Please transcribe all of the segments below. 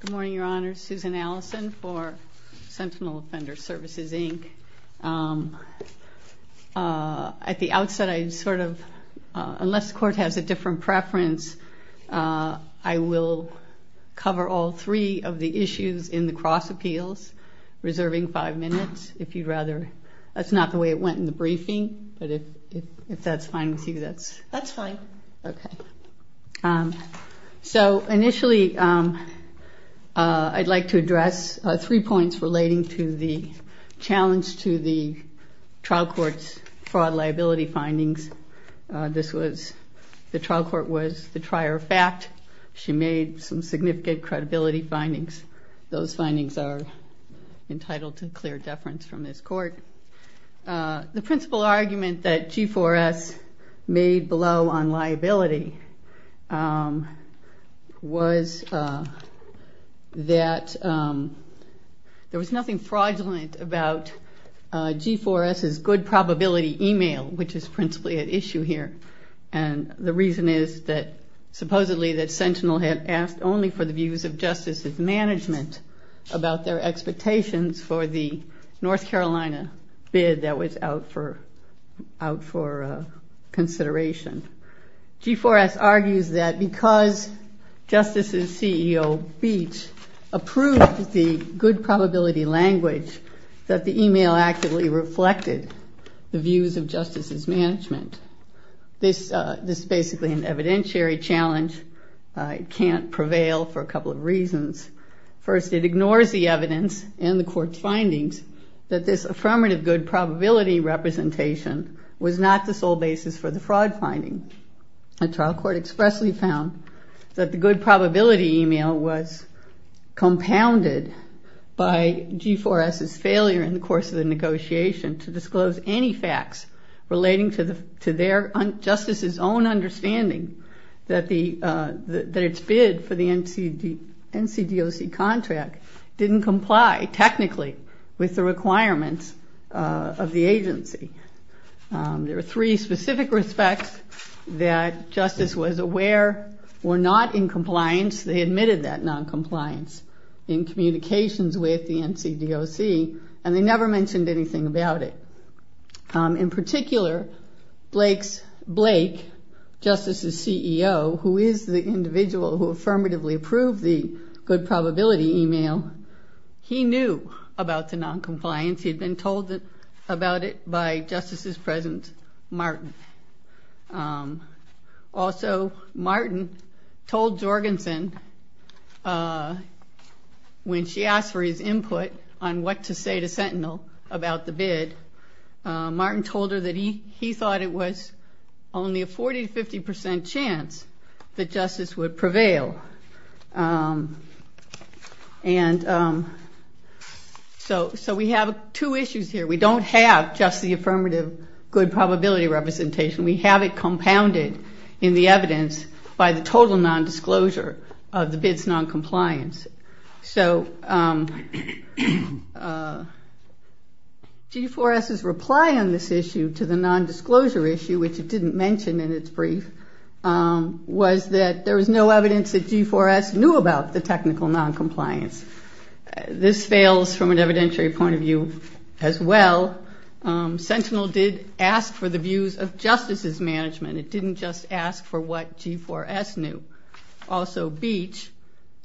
Good morning, Your Honor. Susan Allison for Sentinel Offender Services, Inc. At the outset, I sort of, unless the court has a different preference, I will cover all three of the issues in the cross appeals, reserving five minutes, if you'd rather. That's not the way it went in the briefing, but if that's fine with you, that's... So, initially, I'd like to address three points relating to the challenge to the trial court's fraud liability findings. This was, the trial court was the trier of fact. She made some significant credibility findings. Those findings are entitled to clear deference from this court. The principal argument that G4S made below on liability was that there was nothing fraudulent about G4S's good probability email, which is principally at issue here. And the reason is that supposedly that Sentinel had asked only for the views of Justice's management about their expectations for the North Carolina bid that was out for consideration. G4S argues that because Justice's CEO, Beach, approved the good probability language, that the email actively reflected the views of Justice's management. This is basically an evidentiary challenge. First, it ignores the evidence and the court's findings that this affirmative good probability representation was not the sole basis for the fraud finding. The trial court expressly found that the good probability email was compounded by G4S's failure in the course of the negotiation to disclose any facts relating to Justice's own understanding that its bid for the NCDOC contract didn't comply technically with the requirements of the agency. There were three specific respects that Justice was aware were not in compliance. They admitted that noncompliance in communications with the NCDOC, and they never mentioned anything about it. In particular, Blake, Justice's CEO, who is the individual who affirmatively approved the good probability email, he knew about the noncompliance. He had been told about it by Justice's president, Martin. Also, Martin told Jorgensen, when she asked for his input on what to say to Sentinel about the bid, Martin told her that he thought it was only a 40-50% chance that Justice would prevail. And so we have two issues here. We don't have just the affirmative good probability representation. We have it compounded in the evidence by the total nondisclosure of the bid's noncompliance. So G4S's reply on this issue to the nondisclosure issue, which it didn't mention in its brief, was that there was no evidence that G4S knew about the technical noncompliance. This fails from an evidentiary point of view as well. Sentinel did ask for the views of Justice's management. It didn't just ask for what G4S knew. Also, Beach,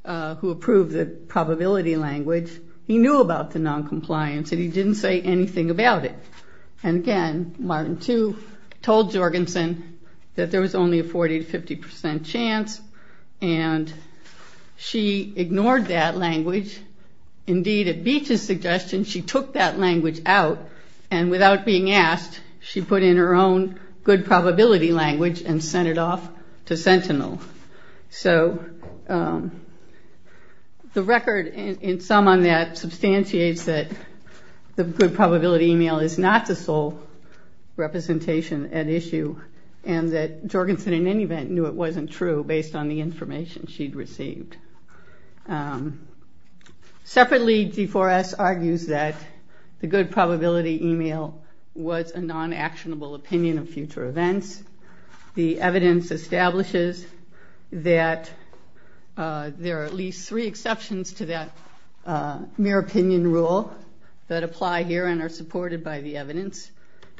who approved the probability language, he knew about the noncompliance, and he didn't say anything about it. And again, Martin, too, told Jorgensen that there was only a 40-50% chance, and she ignored that language. Indeed, at Beach's suggestion, she took that language out, and without being asked, she put in her own good probability language and sent it off to Sentinel. So the record, in sum, on that substantiates that the good probability email is not the sole representation at issue, and that Jorgensen, in any event, knew it wasn't true based on the information she'd received. Separately, G4S argues that the good probability email was a non-actionable opinion of future events. The evidence establishes that there are at least three exceptions to that mere opinion rule that apply here and are supported by the evidence.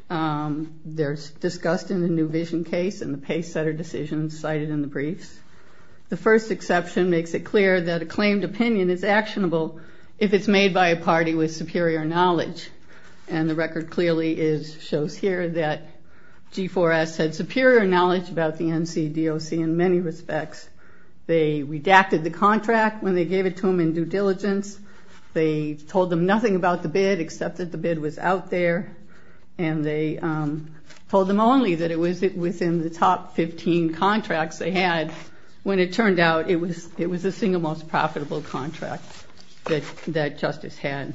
They're discussed in the new vision case and the pace-setter decisions cited in the briefs. The first exception makes it clear that a claimed opinion is actionable if it's made by a party with superior knowledge, and the record clearly shows here that G4S had superior knowledge about the NCDOC in many respects. They redacted the contract when they gave it to them in due diligence. They told them nothing about the bid except that the bid was out there, and they told them only that it was in the top 15 contracts they had When it turned out, it was the single most profitable contract that Justice had.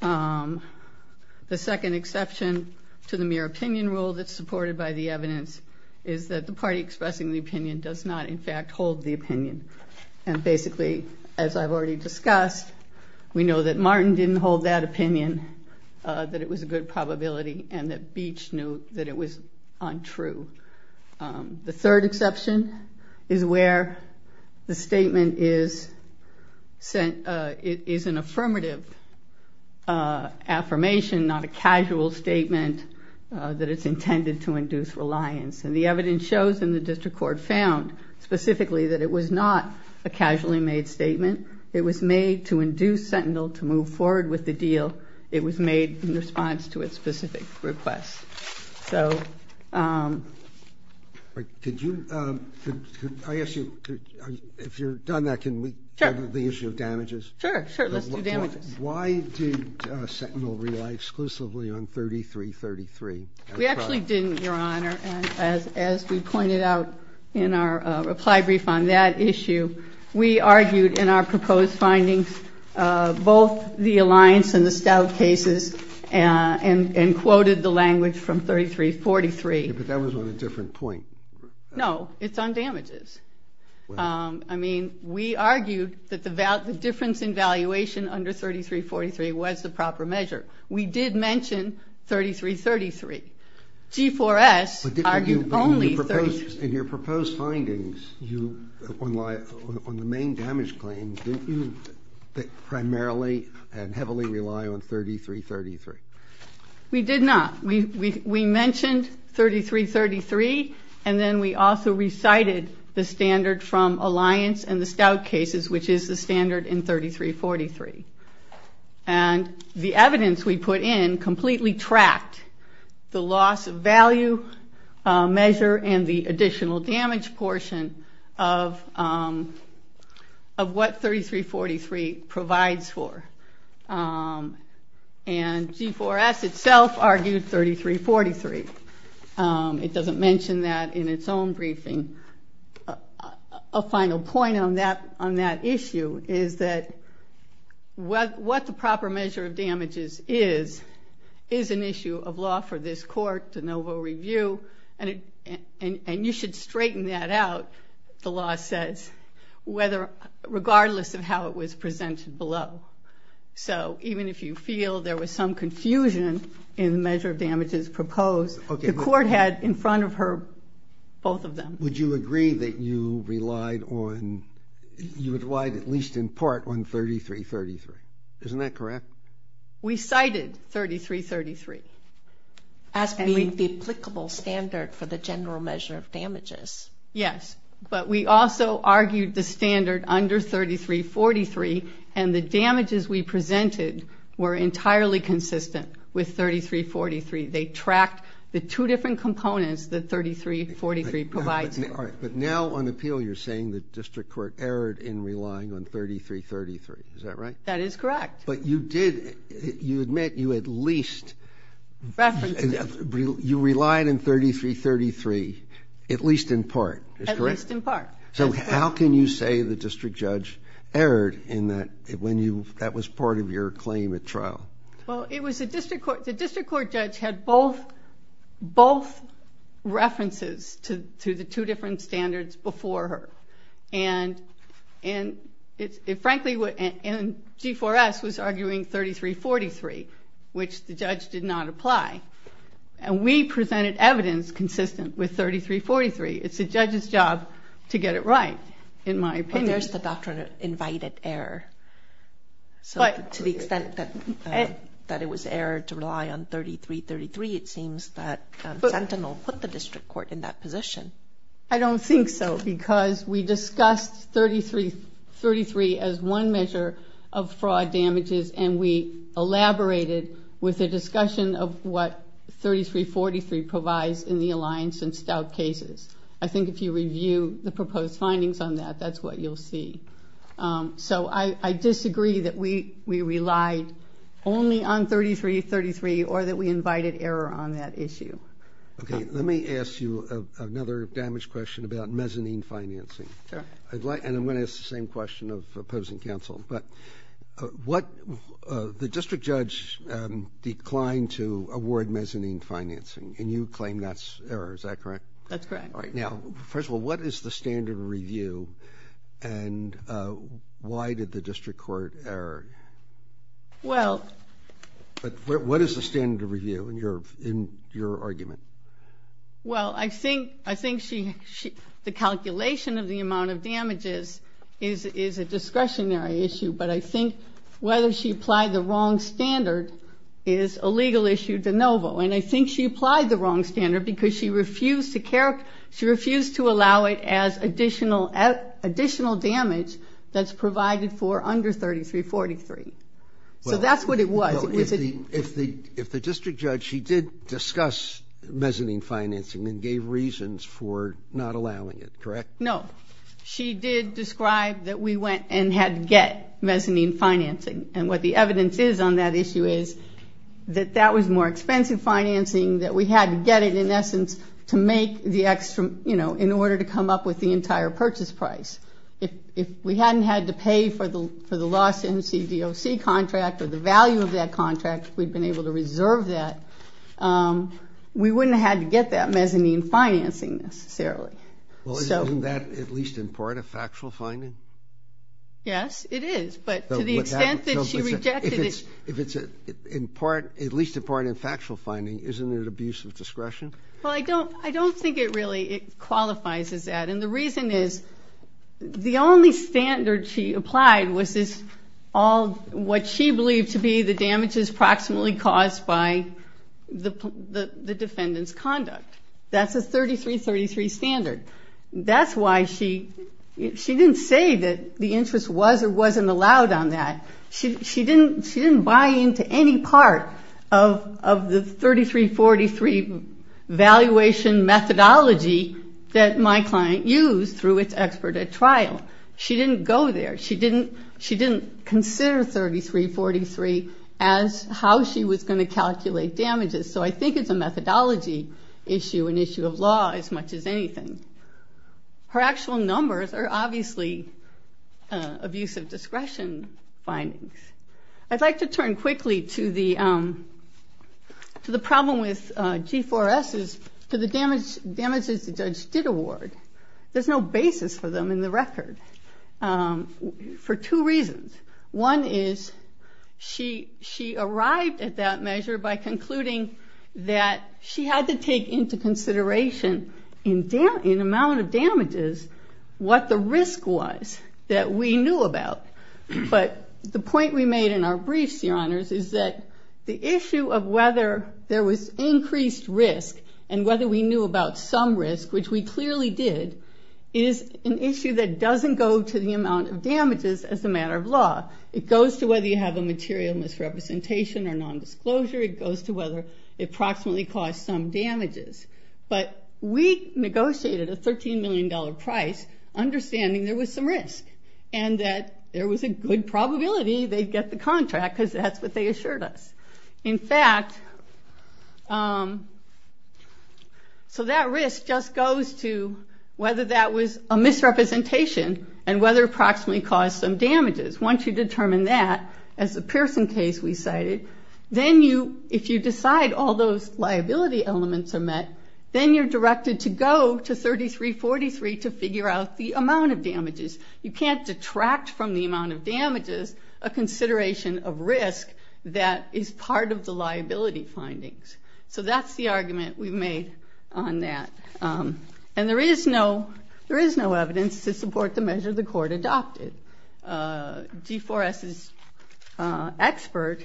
The second exception to the mere opinion rule that's supported by the evidence is that the party expressing the opinion does not, in fact, hold the opinion. And basically, as I've already discussed, we know that Martin didn't hold that opinion, that it was a good probability, and that Beach knew that it was untrue. The third exception is where the statement is an affirmative affirmation, not a casual statement that it's intended to induce reliance. And the evidence shows, and the district court found specifically, that it was not a casually made statement. It was made to induce Sentinel to move forward with the deal. It was made in response to its specific request. I ask you, if you're done with that, can we go to the issue of damages? Sure, sure. Let's do damages. Why did Sentinel rely exclusively on 3333? We actually didn't, Your Honor. As we pointed out in our reply brief on that issue, we argued in our proposed findings both the Alliance and the Stout cases and quoted the language from 3343. But that was on a different point. No, it's on damages. I mean, we argued that the difference in valuation under 3343 was the proper measure. We did mention 3333. G4S argued only 3333. In your proposed findings, on the main damage claims, didn't you primarily and heavily rely on 3333? We did not. We mentioned 3333, and then we also recited the standard from Alliance and the Stout cases, which is the standard in 3343. And the evidence we put in completely tracked the loss of value measure and the additional damage portion of what 3343 provides for. And G4S itself argued 3343. It doesn't mention that in its own briefing. A final point on that issue is that what the proper measure of damages is, is an issue of law for this court, de novo review, and you should straighten that out, the law says, regardless of how it was presented below. So even if you feel there was some confusion in the measure of damages proposed, the court had in front of her both of them. Would you agree that you relied on at least in part on 3333? Isn't that correct? We cited 3333. As being the applicable standard for the general measure of damages. Yes, but we also argued the standard under 3343, and the damages we presented were entirely consistent with 3343. They tracked the two different components that 3343 provides. But now on appeal you're saying the district court erred in relying on 3333. Is that right? That is correct. But you admit you at least relied on 3333, at least in part. At least in part. So how can you say the district judge erred when that was part of your claim at trial? Well, the district court judge had both references to the two different standards before her. And frankly, G4S was arguing 3343, which the judge did not apply. And we presented evidence consistent with 3343. It's the judge's job to get it right, in my opinion. Well, there's the doctrine of invited error. To the extent that it was error to rely on 3333, it seems that Sentinel put the district court in that position. I don't think so, because we discussed 3333 as one measure of fraud damages, and we elaborated with a discussion of what 3343 provides in the alliance in stout cases. I think if you review the proposed findings on that, that's what you'll see. So I disagree that we relied only on 3333 or that we invited error on that issue. Okay. Let me ask you another damage question about mezzanine financing. And I'm going to ask the same question of opposing counsel. But the district judge declined to award mezzanine financing, and you claim that's error. Is that correct? That's correct. All right. Now, first of all, what is the standard of review, and why did the district court err? Well. What is the standard of review in your argument? Well, I think the calculation of the amount of damages is a discretionary issue, but I think whether she applied the wrong standard is a legal issue de novo. And I think she applied the wrong standard because she refused to allow it as additional damage that's provided for under 3343. So that's what it was. If the district judge, she did discuss mezzanine financing and gave reasons for not allowing it, correct? No. She did describe that we went and had to get mezzanine financing. And what the evidence is on that issue is that that was more expensive financing, that we had to get it in essence to make the extra, you know, in order to come up with the entire purchase price. If we hadn't had to pay for the lost MCDOC contract or the value of that contract, if we'd been able to reserve that, we wouldn't have had to get that mezzanine financing necessarily. Well, isn't that at least in part a factual finding? Yes, it is. But to the extent that she rejected it. If it's at least in part a factual finding, isn't it abuse of discretion? Well, I don't think it really qualifies as that. And the reason is the only standard she applied was this, all what she believed to be the damages proximately caused by the defendant's conduct. That's a 3333 standard. That's why she didn't say that the interest was or wasn't allowed on that. She didn't buy into any part of the 3343 valuation methodology that my client used through its expert at trial. She didn't go there. She didn't consider 3343 as how she was going to calculate damages. So I think it's a methodology issue, an issue of law as much as anything. Her actual numbers are obviously abuse of discretion findings. I'd like to turn quickly to the problem with G4S is to the damages the judge did award. There's no basis for them in the record for two reasons. One is she arrived at that measure by concluding that she had to take into consideration in amount of damages what the risk was that we knew about. But the point we made in our briefs, Your Honors, is that the issue of whether there was increased risk and whether we knew about some risk, which we clearly did, is an issue that doesn't go to the amount of damages as a matter of law. It goes to whether you have a material misrepresentation or nondisclosure. It goes to whether it approximately caused some damages. But we negotiated a $13 million price understanding there was some risk and that there was a good probability they'd get the contract because that's what they assured us. In fact, so that risk just goes to whether that was a misrepresentation and whether it approximately caused some damages. Once you determine that, as the Pearson case we cited, then if you decide all those liability elements are met, then you're directed to go to 3343 to figure out the amount of damages. You can't detract from the amount of damages a consideration of risk that is part of the liability findings. So that's the argument we've made on that. And there is no evidence to support the measure the Court adopted. G4S's expert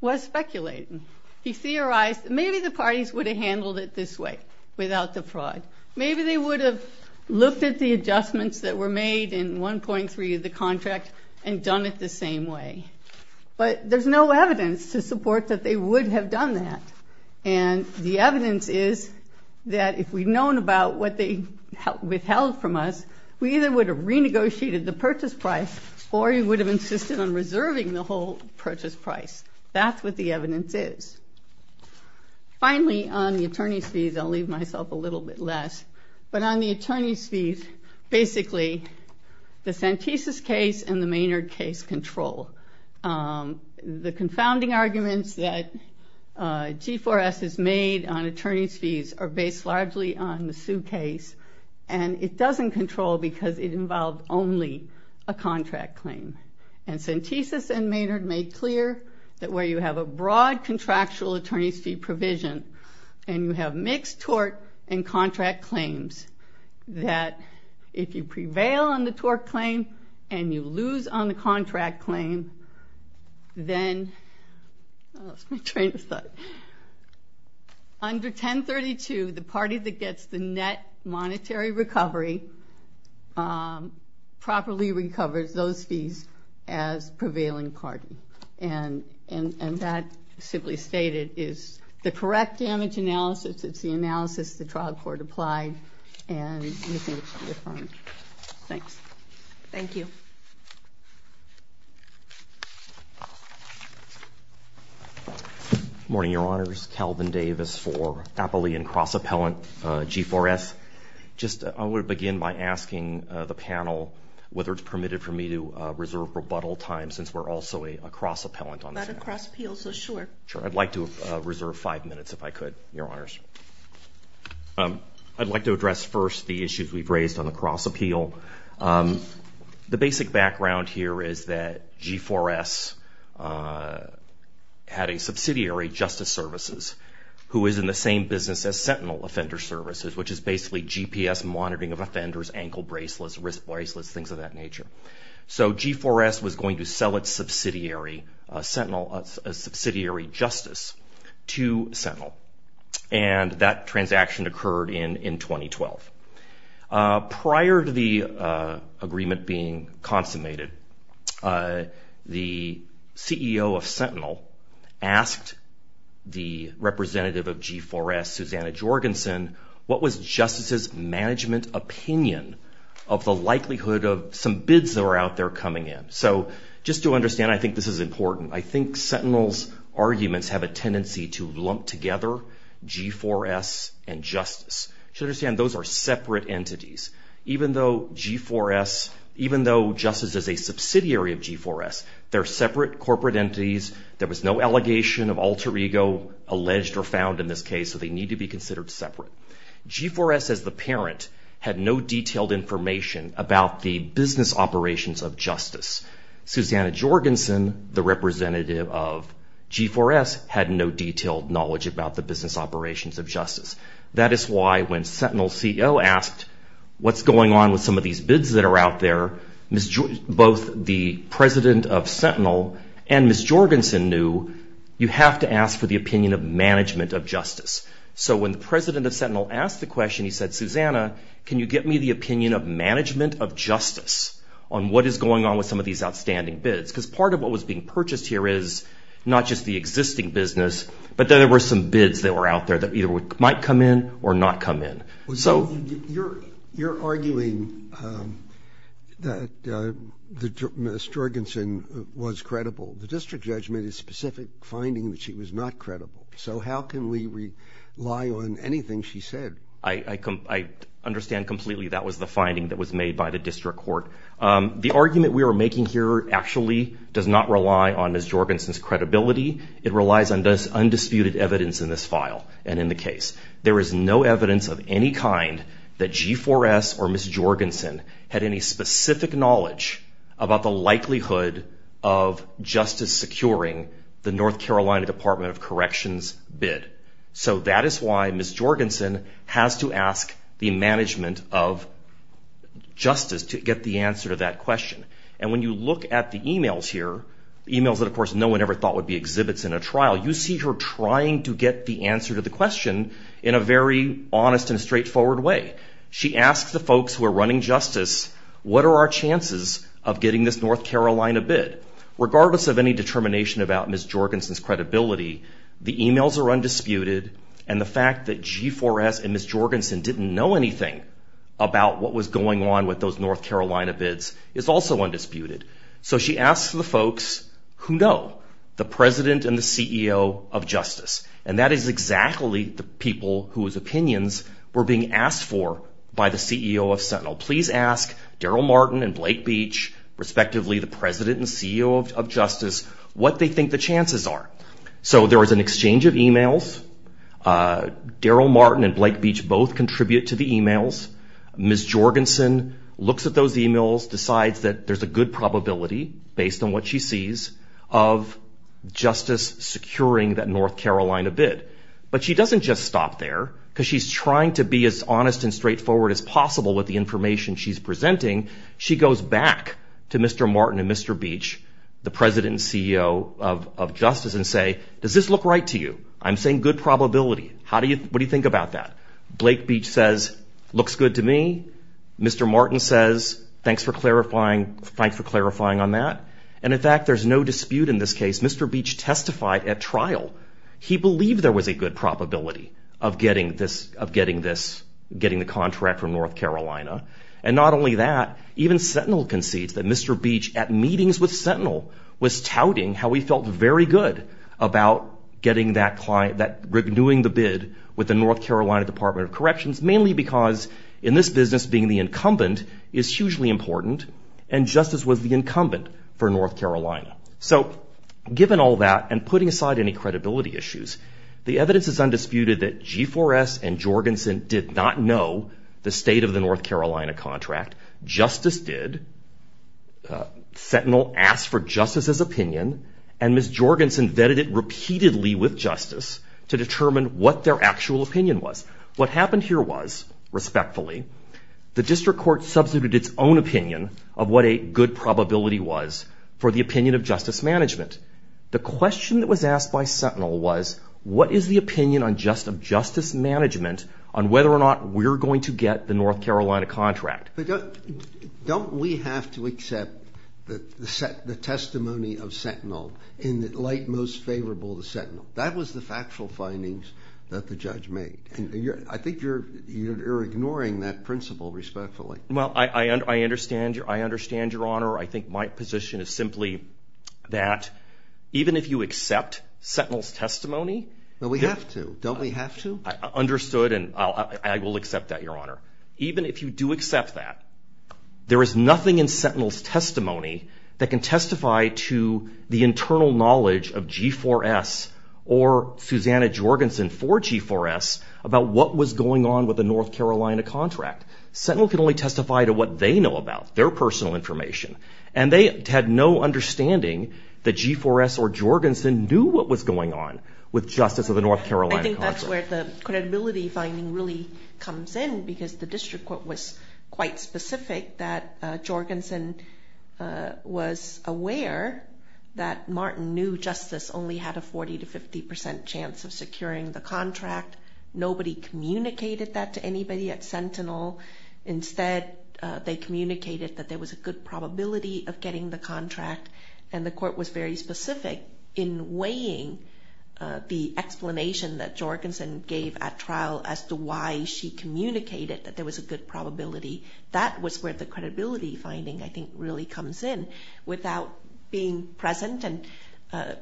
was speculating. He theorized that maybe the parties would have handled it this way without the fraud. Maybe they would have looked at the adjustments that were made in 1.3 of the contract and done it the same way. But there's no evidence to support that they would have done that. And the evidence is that if we'd known about what they withheld from us, we either would have renegotiated the purchase price or we would have insisted on reserving the whole purchase price. That's what the evidence is. Finally, on the attorney's fees, I'll leave myself a little bit less. But on the attorney's fees, basically, the Santisas case and the Maynard case control. The confounding arguments that G4S has made on attorney's fees are based largely on the Sue case. And it doesn't control because it involved only a contract claim. And Santisas and Maynard made clear that where you have a broad contractual attorney's fee provision and you have mixed tort and contract claims, that if you prevail on the tort claim and you lose on the contract claim, then under 1032, the party that gets the net monetary recovery properly recovers those fees. as prevailing party. And that simply stated is the correct damage analysis. It's the analysis the trial court applied. And we think it should be affirmed. Thanks. Thank you. Good morning, Your Honors. Calvin Davis for Appalachian Cross Appellant, G4S. I would begin by asking the panel whether it's permitted for me to reserve rebuttal time since we're also a cross appellant on this matter. But a cross appeal, so sure. Sure. I'd like to reserve five minutes if I could, Your Honors. I'd like to address first the issues we've raised on the cross appeal. The basic background here is that G4S had a subsidiary, Justice Services, who is in the same business as Sentinel Offender Services, which is basically GPS monitoring of offenders, ankle bracelets, wrist bracelets, things of that nature. So G4S was going to sell its subsidiary, Sentinel, a subsidiary Justice to Sentinel. And that transaction occurred in 2012. Prior to the agreement being consummated, the CEO of Sentinel asked the representative of G4S, Susanna Jorgensen, what was Justice's management opinion of the likelihood of some bids that were out there coming in? So just to understand, I think this is important. I think Sentinel's arguments have a tendency to lump together G4S and Justice. To understand, those are separate entities. Even though Justice is a subsidiary of G4S, they're separate corporate entities. There was no allegation of alter ego alleged or found in this case, so they need to be considered separate. G4S, as the parent, had no detailed information about the business operations of Justice. Susanna Jorgensen, the representative of G4S, had no detailed knowledge about the business operations of Justice. That is why when Sentinel's CEO asked, what's going on with some of these bids that are out there, both the president of Sentinel and Ms. Jorgensen knew, you have to ask for the opinion of management of Justice. So when the president of Sentinel asked the question, he said, Susanna, can you get me the opinion of management of Justice on what is going on with some of these outstanding bids? Because part of what was being purchased here is not just the existing business, but there were some bids that were out there that either might come in or not come in. You're arguing that Ms. Jorgensen was credible. The district judgment is a specific finding that she was not credible. So how can we rely on anything she said? I understand completely that was the finding that was made by the district court. The argument we are making here actually does not rely on Ms. Jorgensen's credibility. It relies on undisputed evidence in this file and in the case. There is no evidence of any kind that G4S or Ms. Jorgensen had any specific knowledge about the likelihood of Justice securing the North Carolina Department of Corrections bid. So that is why Ms. Jorgensen has to ask the management of Justice to get the answer to that question. And when you look at the emails here, emails that of course no one ever thought would be exhibits in a trial, you see her trying to get the answer to the question in a very honest and straightforward way. She asks the folks who are running Justice, what are our chances of getting this North Carolina bid? Regardless of any determination about Ms. Jorgensen's credibility, the emails are undisputed, and the fact that G4S and Ms. Jorgensen didn't know anything about what was going on with those North Carolina bids is also undisputed. So she asks the folks who know, the President and the CEO of Justice. And that is exactly the people whose opinions were being asked for by the CEO of Sentinel. Please ask Daryl Martin and Blake Beach, respectively, the President and CEO of Justice, what they think the chances are. So there is an exchange of emails. Daryl Martin and Blake Beach both contribute to the emails. Ms. Jorgensen looks at those emails, decides that there's a good probability, based on what she sees, of Justice securing that North Carolina bid. But she doesn't just stop there, because she's trying to be as honest and straightforward as possible with the information she's presenting. She goes back to Mr. Martin and Mr. Beach, the President and CEO of Justice, and says, does this look right to you? I'm saying good probability. What do you think about that? Blake Beach says, looks good to me. Mr. Martin says, thanks for clarifying on that. And in fact, there's no dispute in this case. Mr. Beach testified at trial. He believed there was a good probability of getting the contract from North Carolina. And not only that, even Sentinel concedes that Mr. Beach, at meetings with Sentinel, was touting how he felt very good about renewing the bid with the North Carolina Department of Corrections, mainly because in this business, being the incumbent is hugely important, and Justice was the incumbent for North Carolina. So given all that, and putting aside any credibility issues, the evidence is undisputed that G4S and Jorgensen did not know the state of the North Carolina contract. Justice did. Sentinel asked for Justice's opinion, and Ms. Jorgensen vetted it repeatedly with Justice to determine what their actual opinion was. What happened here was, respectfully, the district court substituted its own opinion of what a good probability was for the opinion of Justice Management. The question that was asked by Sentinel was, what is the opinion of Justice Management on whether or not we're going to get the North Carolina contract? Don't we have to accept the testimony of Sentinel in the light most favorable to Sentinel? That was the factual findings that the judge made. I think you're ignoring that principle, respectfully. Well, I understand, Your Honor. I think my position is simply that even if you accept Sentinel's testimony— But we have to. Don't we have to? I understood, and I will accept that, Your Honor. Even if you do accept that, there is nothing in Sentinel's testimony that can testify to the internal knowledge of G4S or Susanna Jorgensen for G4S about what was going on with the North Carolina contract. Sentinel can only testify to what they know about, their personal information. And they had no understanding that G4S or Jorgensen knew what was going on with Justice of the North Carolina contract. I think that's where the credibility finding really comes in, because the district court was quite specific that Jorgensen was aware that Martin knew Justice only had a 40 to 50 percent chance of securing the contract. Nobody communicated that to anybody at Sentinel. Instead, they communicated that there was a good probability of getting the contract, and the court was very specific in weighing the explanation that Jorgensen gave at trial as to why she communicated that there was a good probability. That was where the credibility finding, I think, really comes in. Without being present and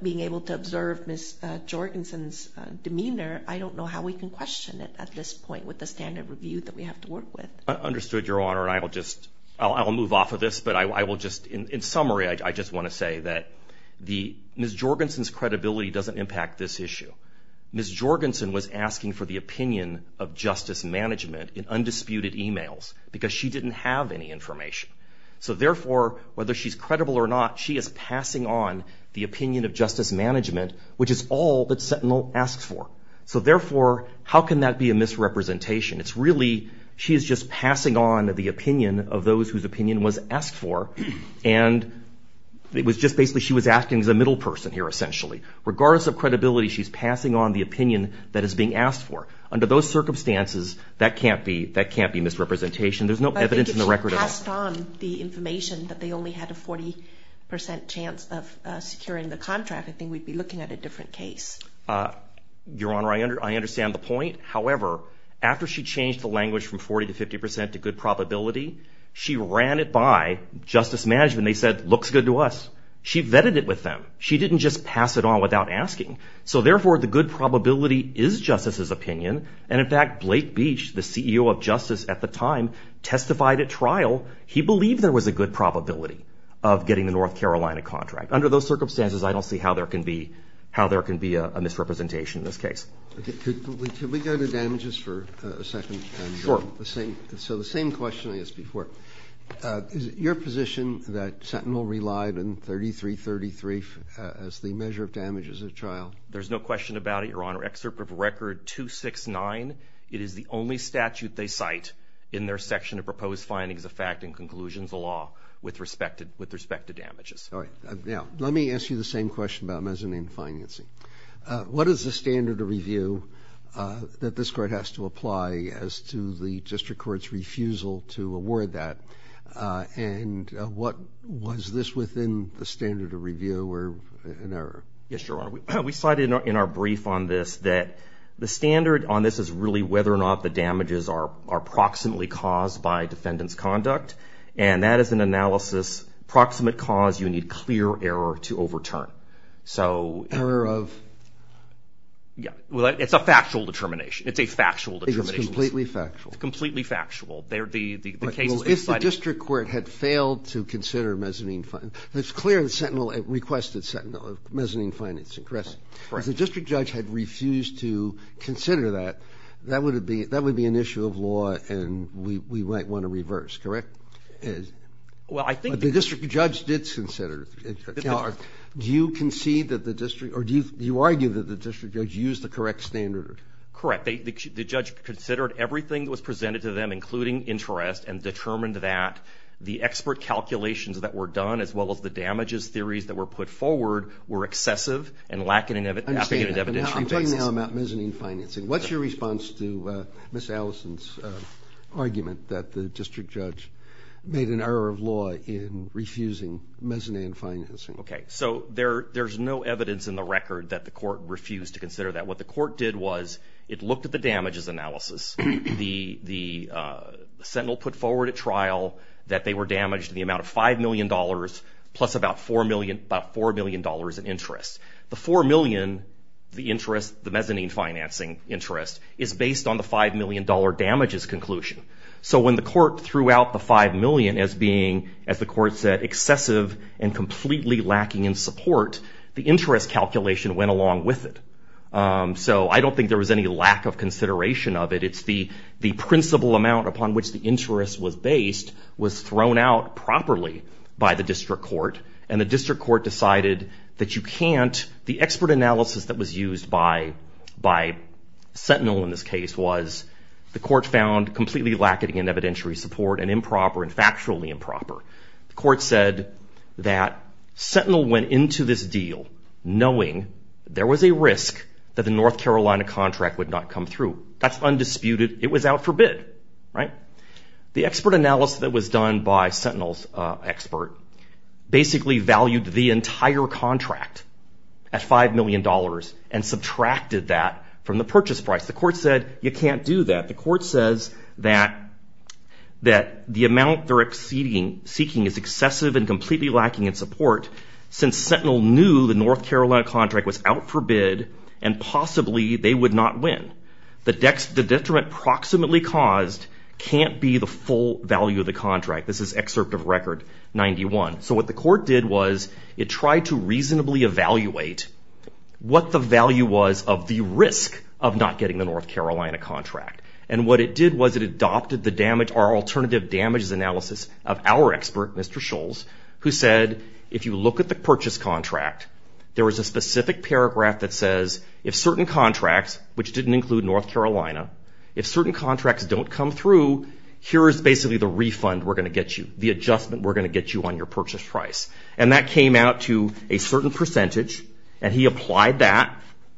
being able to observe Ms. Jorgensen's demeanor, I don't know how we can question it at this point with the standard review that we have to work with. Understood, Your Honor, and I'll move off of this. In summary, I just want to say that Ms. Jorgensen's credibility doesn't impact this issue. Ms. Jorgensen was asking for the opinion of Justice Management in undisputed e-mails because she didn't have any information. Therefore, whether she's credible or not, she is passing on the opinion of Justice Management, which is all that Sentinel asks for. Therefore, how can that be a misrepresentation? It's really she's just passing on the opinion of those whose opinion was asked for, and it was just basically she was asking as a middle person here, essentially. Regardless of credibility, she's passing on the opinion that is being asked for. Under those circumstances, that can't be misrepresentation. There's no evidence in the record at all. I think if she passed on the information that they only had a 40 percent chance of securing the contract, I think we'd be looking at a different case. Your Honor, I understand the point. However, after she changed the language from 40 to 50 percent to good probability, she ran it by Justice Management. They said, looks good to us. She vetted it with them. She didn't just pass it on without asking. So therefore, the good probability is Justice's opinion, and in fact, Blake Beach, the CEO of Justice at the time, testified at trial. He believed there was a good probability of getting the North Carolina contract. Under those circumstances, I don't see how there can be a misrepresentation in this case. Could we go to damages for a second? Sure. So the same question I asked before. Is it your position that Sentinel relied on 3333 as the measure of damages at trial? There's no question about it, Your Honor. Excerpt of Record 269. It is the only statute they cite in their section of proposed findings of fact and conclusions of law with respect to damages. All right. Now, let me ask you the same question about mezzanine financing. What is the standard of review that this court has to apply as to the district court's refusal to award that? And was this within the standard of review or an error? Yes, Your Honor. We cited in our brief on this that the standard on this is really whether or not the damages are proximately caused by defendant's conduct, and that is an analysis, proximate cause, you need clear error to overturn. Error of? It's a factual determination. It's a factual determination. It's completely factual. It's completely factual. If the district court had failed to consider mezzanine financing, it's clear that Sentinel requested mezzanine financing, correct? Correct. If the district judge had refused to consider that, that would be an issue of law and we might want to reverse, correct? Well, I think the district judge did consider it. Do you concede that the district or do you argue that the district judge used the correct standard? Correct. The judge considered everything that was presented to them, including interest, and determined that the expert calculations that were done as well as the damages theories that were put forward were excessive and lacking in evidentiary basis. I'm talking now about mezzanine financing. What's your response to Ms. Allison's argument that the district judge made an error of law in refusing mezzanine financing? Okay. So there's no evidence in the record that the court refused to consider that. What the court did was it looked at the damages analysis. The Sentinel put forward at trial that they were damaged in the amount of $5 million plus about $4 million in interest. The $4 million, the interest, the mezzanine financing interest, is based on the $5 million damages conclusion. So when the court threw out the $5 million as being, as the court said, excessive and completely lacking in support, the interest calculation went along with it. So I don't think there was any lack of consideration of it. It's the principal amount upon which the interest was based was thrown out properly by the district court, and the district court decided that you can't. The expert analysis that was used by Sentinel in this case was the court found completely lacking in evidentiary support and improper and factually improper. The court said that Sentinel went into this deal knowing there was a risk that the North Carolina contract would not come through. That's undisputed. It was out for bid, right? The expert analysis that was done by Sentinel's expert basically valued the entire contract at $5 million and subtracted that from the purchase price. The court said you can't do that. The court says that the amount they're seeking is excessive and completely lacking in support since Sentinel knew the North Carolina contract was out for bid and possibly they would not win. The detriment proximately caused can't be the full value of the contract. This is excerpt of record 91. So what the court did was it tried to reasonably evaluate what the value was of the risk of not getting the North Carolina contract. And what it did was it adopted the alternative damages analysis of our expert, Mr. Scholz, who said if you look at the purchase contract, there was a specific paragraph that says if certain contracts, which didn't include North Carolina, if certain contracts don't come through, here is basically the refund we're going to get you, the adjustment we're going to get you on your purchase price. And that came out to a certain percentage. And he applied that.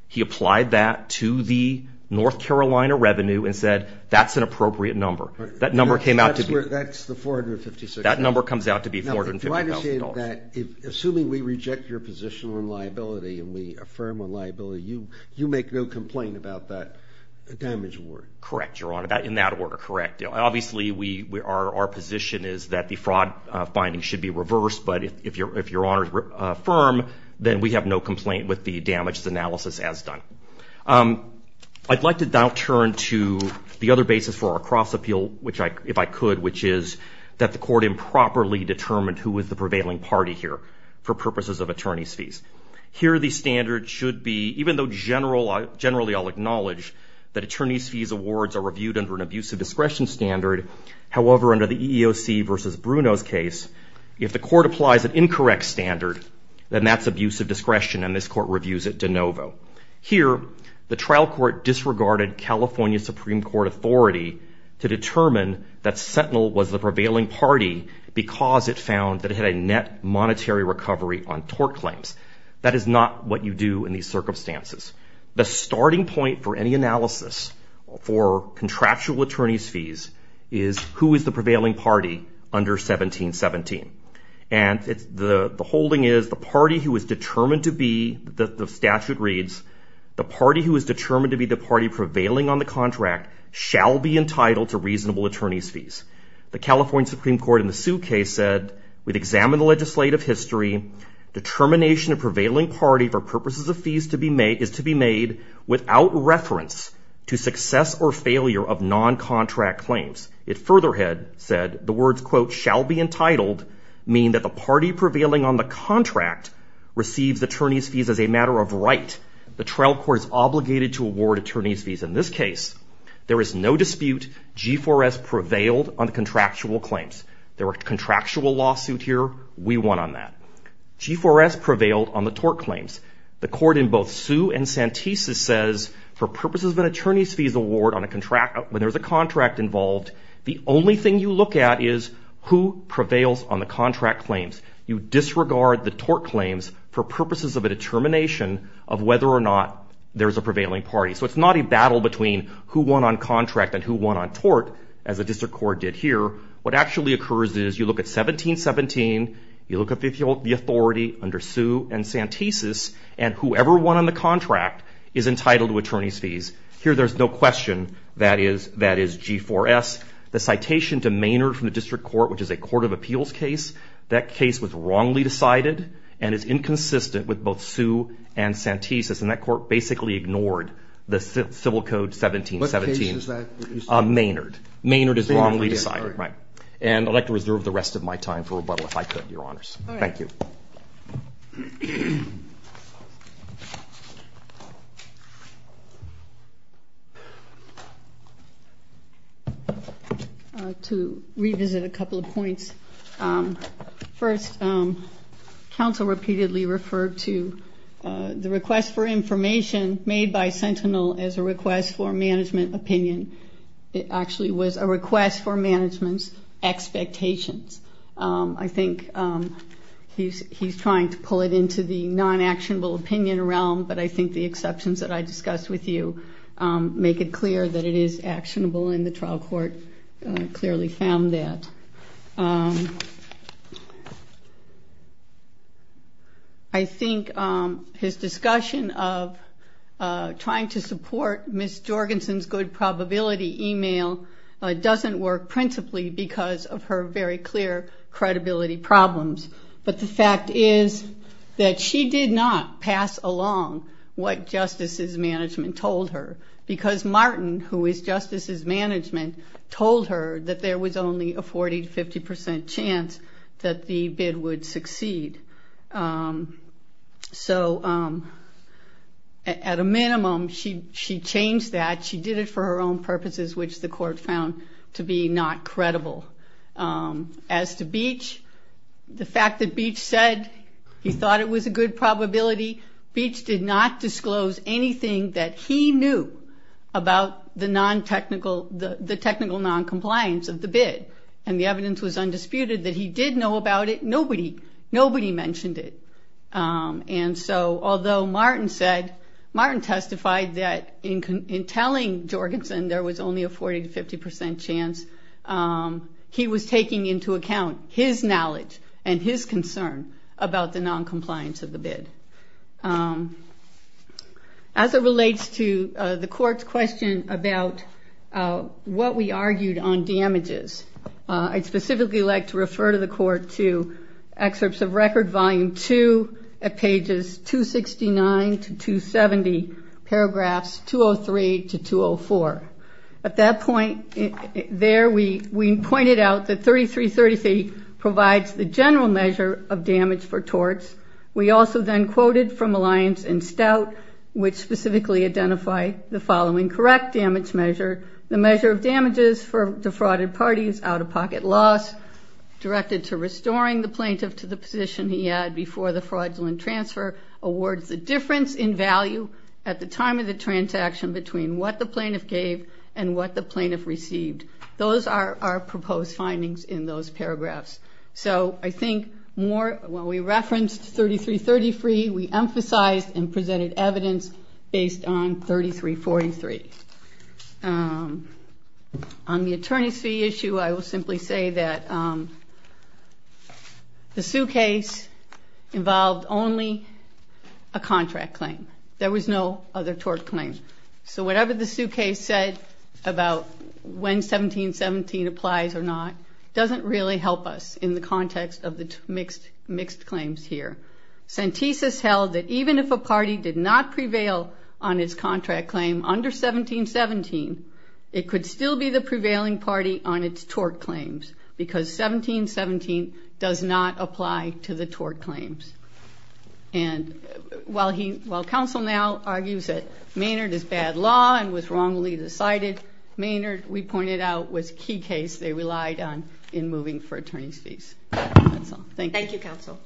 He applied that to the North Carolina revenue and said that's an appropriate number. That number came out to be. That's the $456,000. That number comes out to be $450,000. Assuming we reject your position on liability and we affirm on liability, you make no complaint about that damage award. Correct, Your Honor. In that order, correct. Obviously, our position is that the fraud finding should be reversed. But if Your Honor is firm, then we have no complaint with the damages analysis as done. I'd like to now turn to the other basis for our cross-appeal, if I could, which is that the court improperly determined who was the prevailing party here for purposes of attorney's fees. Here the standard should be, even though generally I'll acknowledge that attorney's fees awards are reviewed under an abusive discretion standard, however, under the EEOC versus Bruno's case, if the court applies an incorrect standard, then that's abusive discretion and this court reviews it de novo. Here, the trial court disregarded California Supreme Court authority to determine that Sentinel was the prevailing party because it found that it had a net monetary recovery on tort claims. That is not what you do in these circumstances. The starting point for any analysis for contractual attorney's fees is who is the prevailing party under 1717. The holding is the party who is determined to be, the statute reads, the party who is determined to be the party prevailing on the contract shall be entitled to reasonable attorney's fees. The California Supreme Court in the Sue case said, we'd examine the legislative history. Determination of prevailing party for purposes of fees is to be made without reference to success or failure of non-contract claims. It further had said, the words, quote, shall be entitled, mean that the party prevailing on the contract receives attorney's fees as a matter of right. The trial court is obligated to award attorney's fees. In this case, there is no dispute. G4S prevailed on contractual claims. There were contractual lawsuit here. We won on that. G4S prevailed on the tort claims. The court in both Sue and Santisa says, for purposes of an attorney's fees award on a contract, when there's a contract involved, the only thing you look at is who prevails on the contract claims. You disregard the tort claims for purposes of a determination of whether or not there's a prevailing party. So it's not a battle between who won on contract and who won on tort, as the district court did here. What actually occurs is you look at 1717, you look at the authority under Sue and Santisa, and whoever won on the contract is entitled to attorney's fees. Here, there's no question that is G4S. The citation to Maynard from the district court, which is a court of appeals case, that case was wrongly decided and is inconsistent with both Sue and Santisa. And that court basically ignored the Civil Code 1717. What case is that? Maynard. Maynard is wrongly decided. Maynard, right. And I'd like to reserve the rest of my time for rebuttal, if I could, Your Honors. All right. Thank you. Thank you. To revisit a couple of points. First, counsel repeatedly referred to the request for information made by Sentinel as a request for management opinion. It actually was a request for management's expectations. I think he's trying to pull it into the non-actionable opinion realm, but I think the exceptions that I discussed with you make it clear that it is actionable, and the trial court clearly found that. I think his discussion of trying to support Ms. Jorgensen's good probability email doesn't work principally because of her very clear credibility problems. But the fact is that she did not pass along what justices' management told her, because Martin, who is justices' management, told her that there was only a 40% to 50% chance that the bid would succeed. So at a minimum, she changed that. She did it for her own purposes, which the court found to be not credible. As to Beach, the fact that Beach said he thought it was a good probability, Beach did not disclose anything that he knew about the technical noncompliance of the bid, and the evidence was undisputed that he did know about it. Nobody mentioned it. Although Martin testified that in telling Jorgensen there was only a 40% to 50% chance, he was taking into account his knowledge and his concern about the noncompliance of the bid. As it relates to the court's question about what we argued on damages, I'd specifically like to refer to the court to excerpts of Record Volume 2 at pages 269 to 270, paragraphs 203 to 204. At that point there, we pointed out that 3333 provides the general measure of damage for torts. We also then quoted from Alliance and Stout, which specifically identify the following correct damage measure, the measure of damages for defrauded parties, out-of-pocket loss, directed to restoring the plaintiff to the position he had before the fraudulent transfer, awards the difference in value at the time of the transaction between what the plaintiff gave and what the plaintiff received. Those are our proposed findings in those paragraphs. I think when we referenced 3333, we emphasized and presented evidence based on 3343. On the attorney's fee issue, I will simply say that the suitcase involved only a contract claim. There was no other tort claim. So whatever the suitcase said about when 1717 applies or not doesn't really help us in the context of the mixed claims here. Santis has held that even if a party did not prevail on its contract claim under 1717, it could still be the prevailing party on its tort claims because 1717 does not apply to the tort claims. And while counsel now argues that Maynard is bad law and was wrongly decided, Maynard, we pointed out, was a key case they relied on in moving for attorney's fees. Thank you. Thank you, counsel.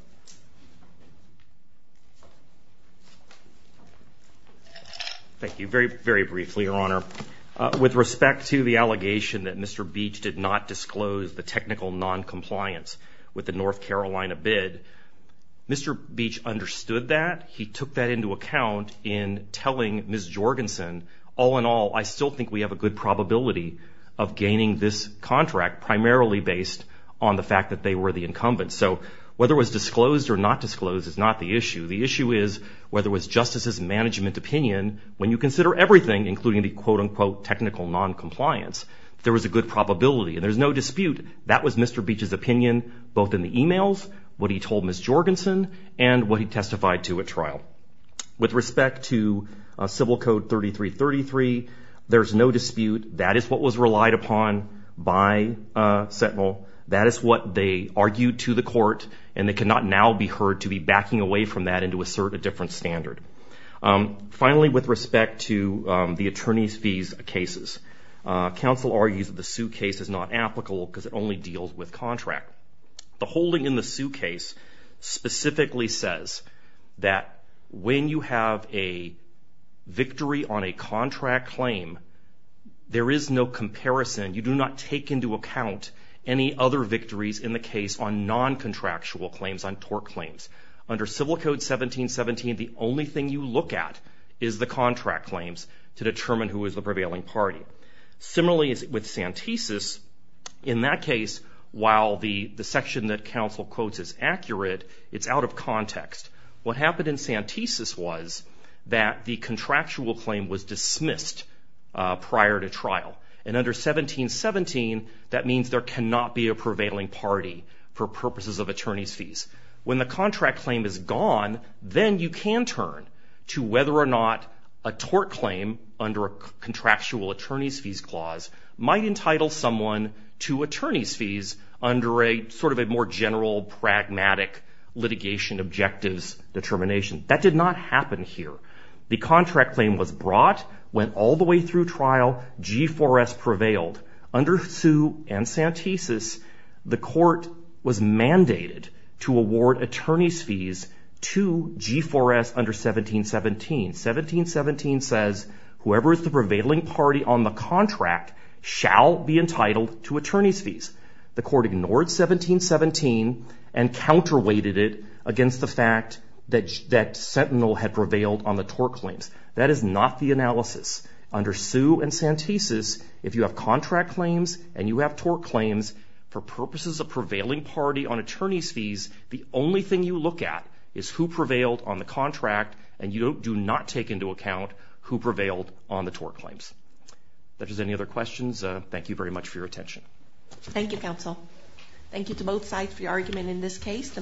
Thank you. Very, very briefly, Your Honor. With respect to the allegation that Mr. Beach did not disclose the technical noncompliance with the North Carolina bid, Mr. Beach understood that. He took that into account in telling Ms. Jorgensen, all in all, I still think we have a good probability of gaining this contract primarily based on the fact that they were the incumbent. So whether it was disclosed or not disclosed is not the issue. The issue is whether it was justice's management opinion. When you consider everything, including the quote-unquote technical noncompliance, there was a good probability and there's no dispute that was Mr. Beach's opinion, both in the e-mails, what he told Ms. Jorgensen and what he testified to at trial. With respect to Civil Code 3333, there's no dispute. That is what was relied upon by Sentinel. That is what they argued to the court, and they cannot now be heard to be backing away from that and to assert a different standard. Finally, with respect to the attorney's fees cases, counsel argues that the suit case is not applicable because it only deals with contract. The holding in the suit case specifically says that when you have a victory on a contract claim, there is no comparison. You do not take into account any other victories in the case on noncontractual claims, on tort claims. Under Civil Code 1717, the only thing you look at is the contract claims to determine who is the prevailing party. Similarly, with Santesis, in that case, while the section that counsel quotes is accurate, it's out of context. What happened in Santesis was that the contractual claim was dismissed prior to trial. Under 1717, that means there cannot be a prevailing party for purposes of attorney's fees. When the contract claim is gone, then you can turn to whether or not a tort claim under a contractual attorney's fees clause might entitle someone to attorney's fees under a sort of a more general, pragmatic litigation objectives determination. That did not happen here. The contract claim was brought, went all the way through trial, G4S prevailed. Under Sioux and Santesis, the court was mandated to award attorney's fees to G4S under 1717. 1717 says, whoever is the prevailing party on the contract shall be entitled to attorney's fees. The court ignored 1717 and counterweighted it against the fact that Sentinel had prevailed on the tort claims. That is not the analysis. Under Sioux and Santesis, if you have contract claims and you have tort claims, for purposes of prevailing party on attorney's fees, the only thing you look at is who prevailed on the contract, and you do not take into account who prevailed on the tort claims. If there's any other questions, thank you very much for your attention. Thank you, counsel. Thank you to both sides for your argument in this case.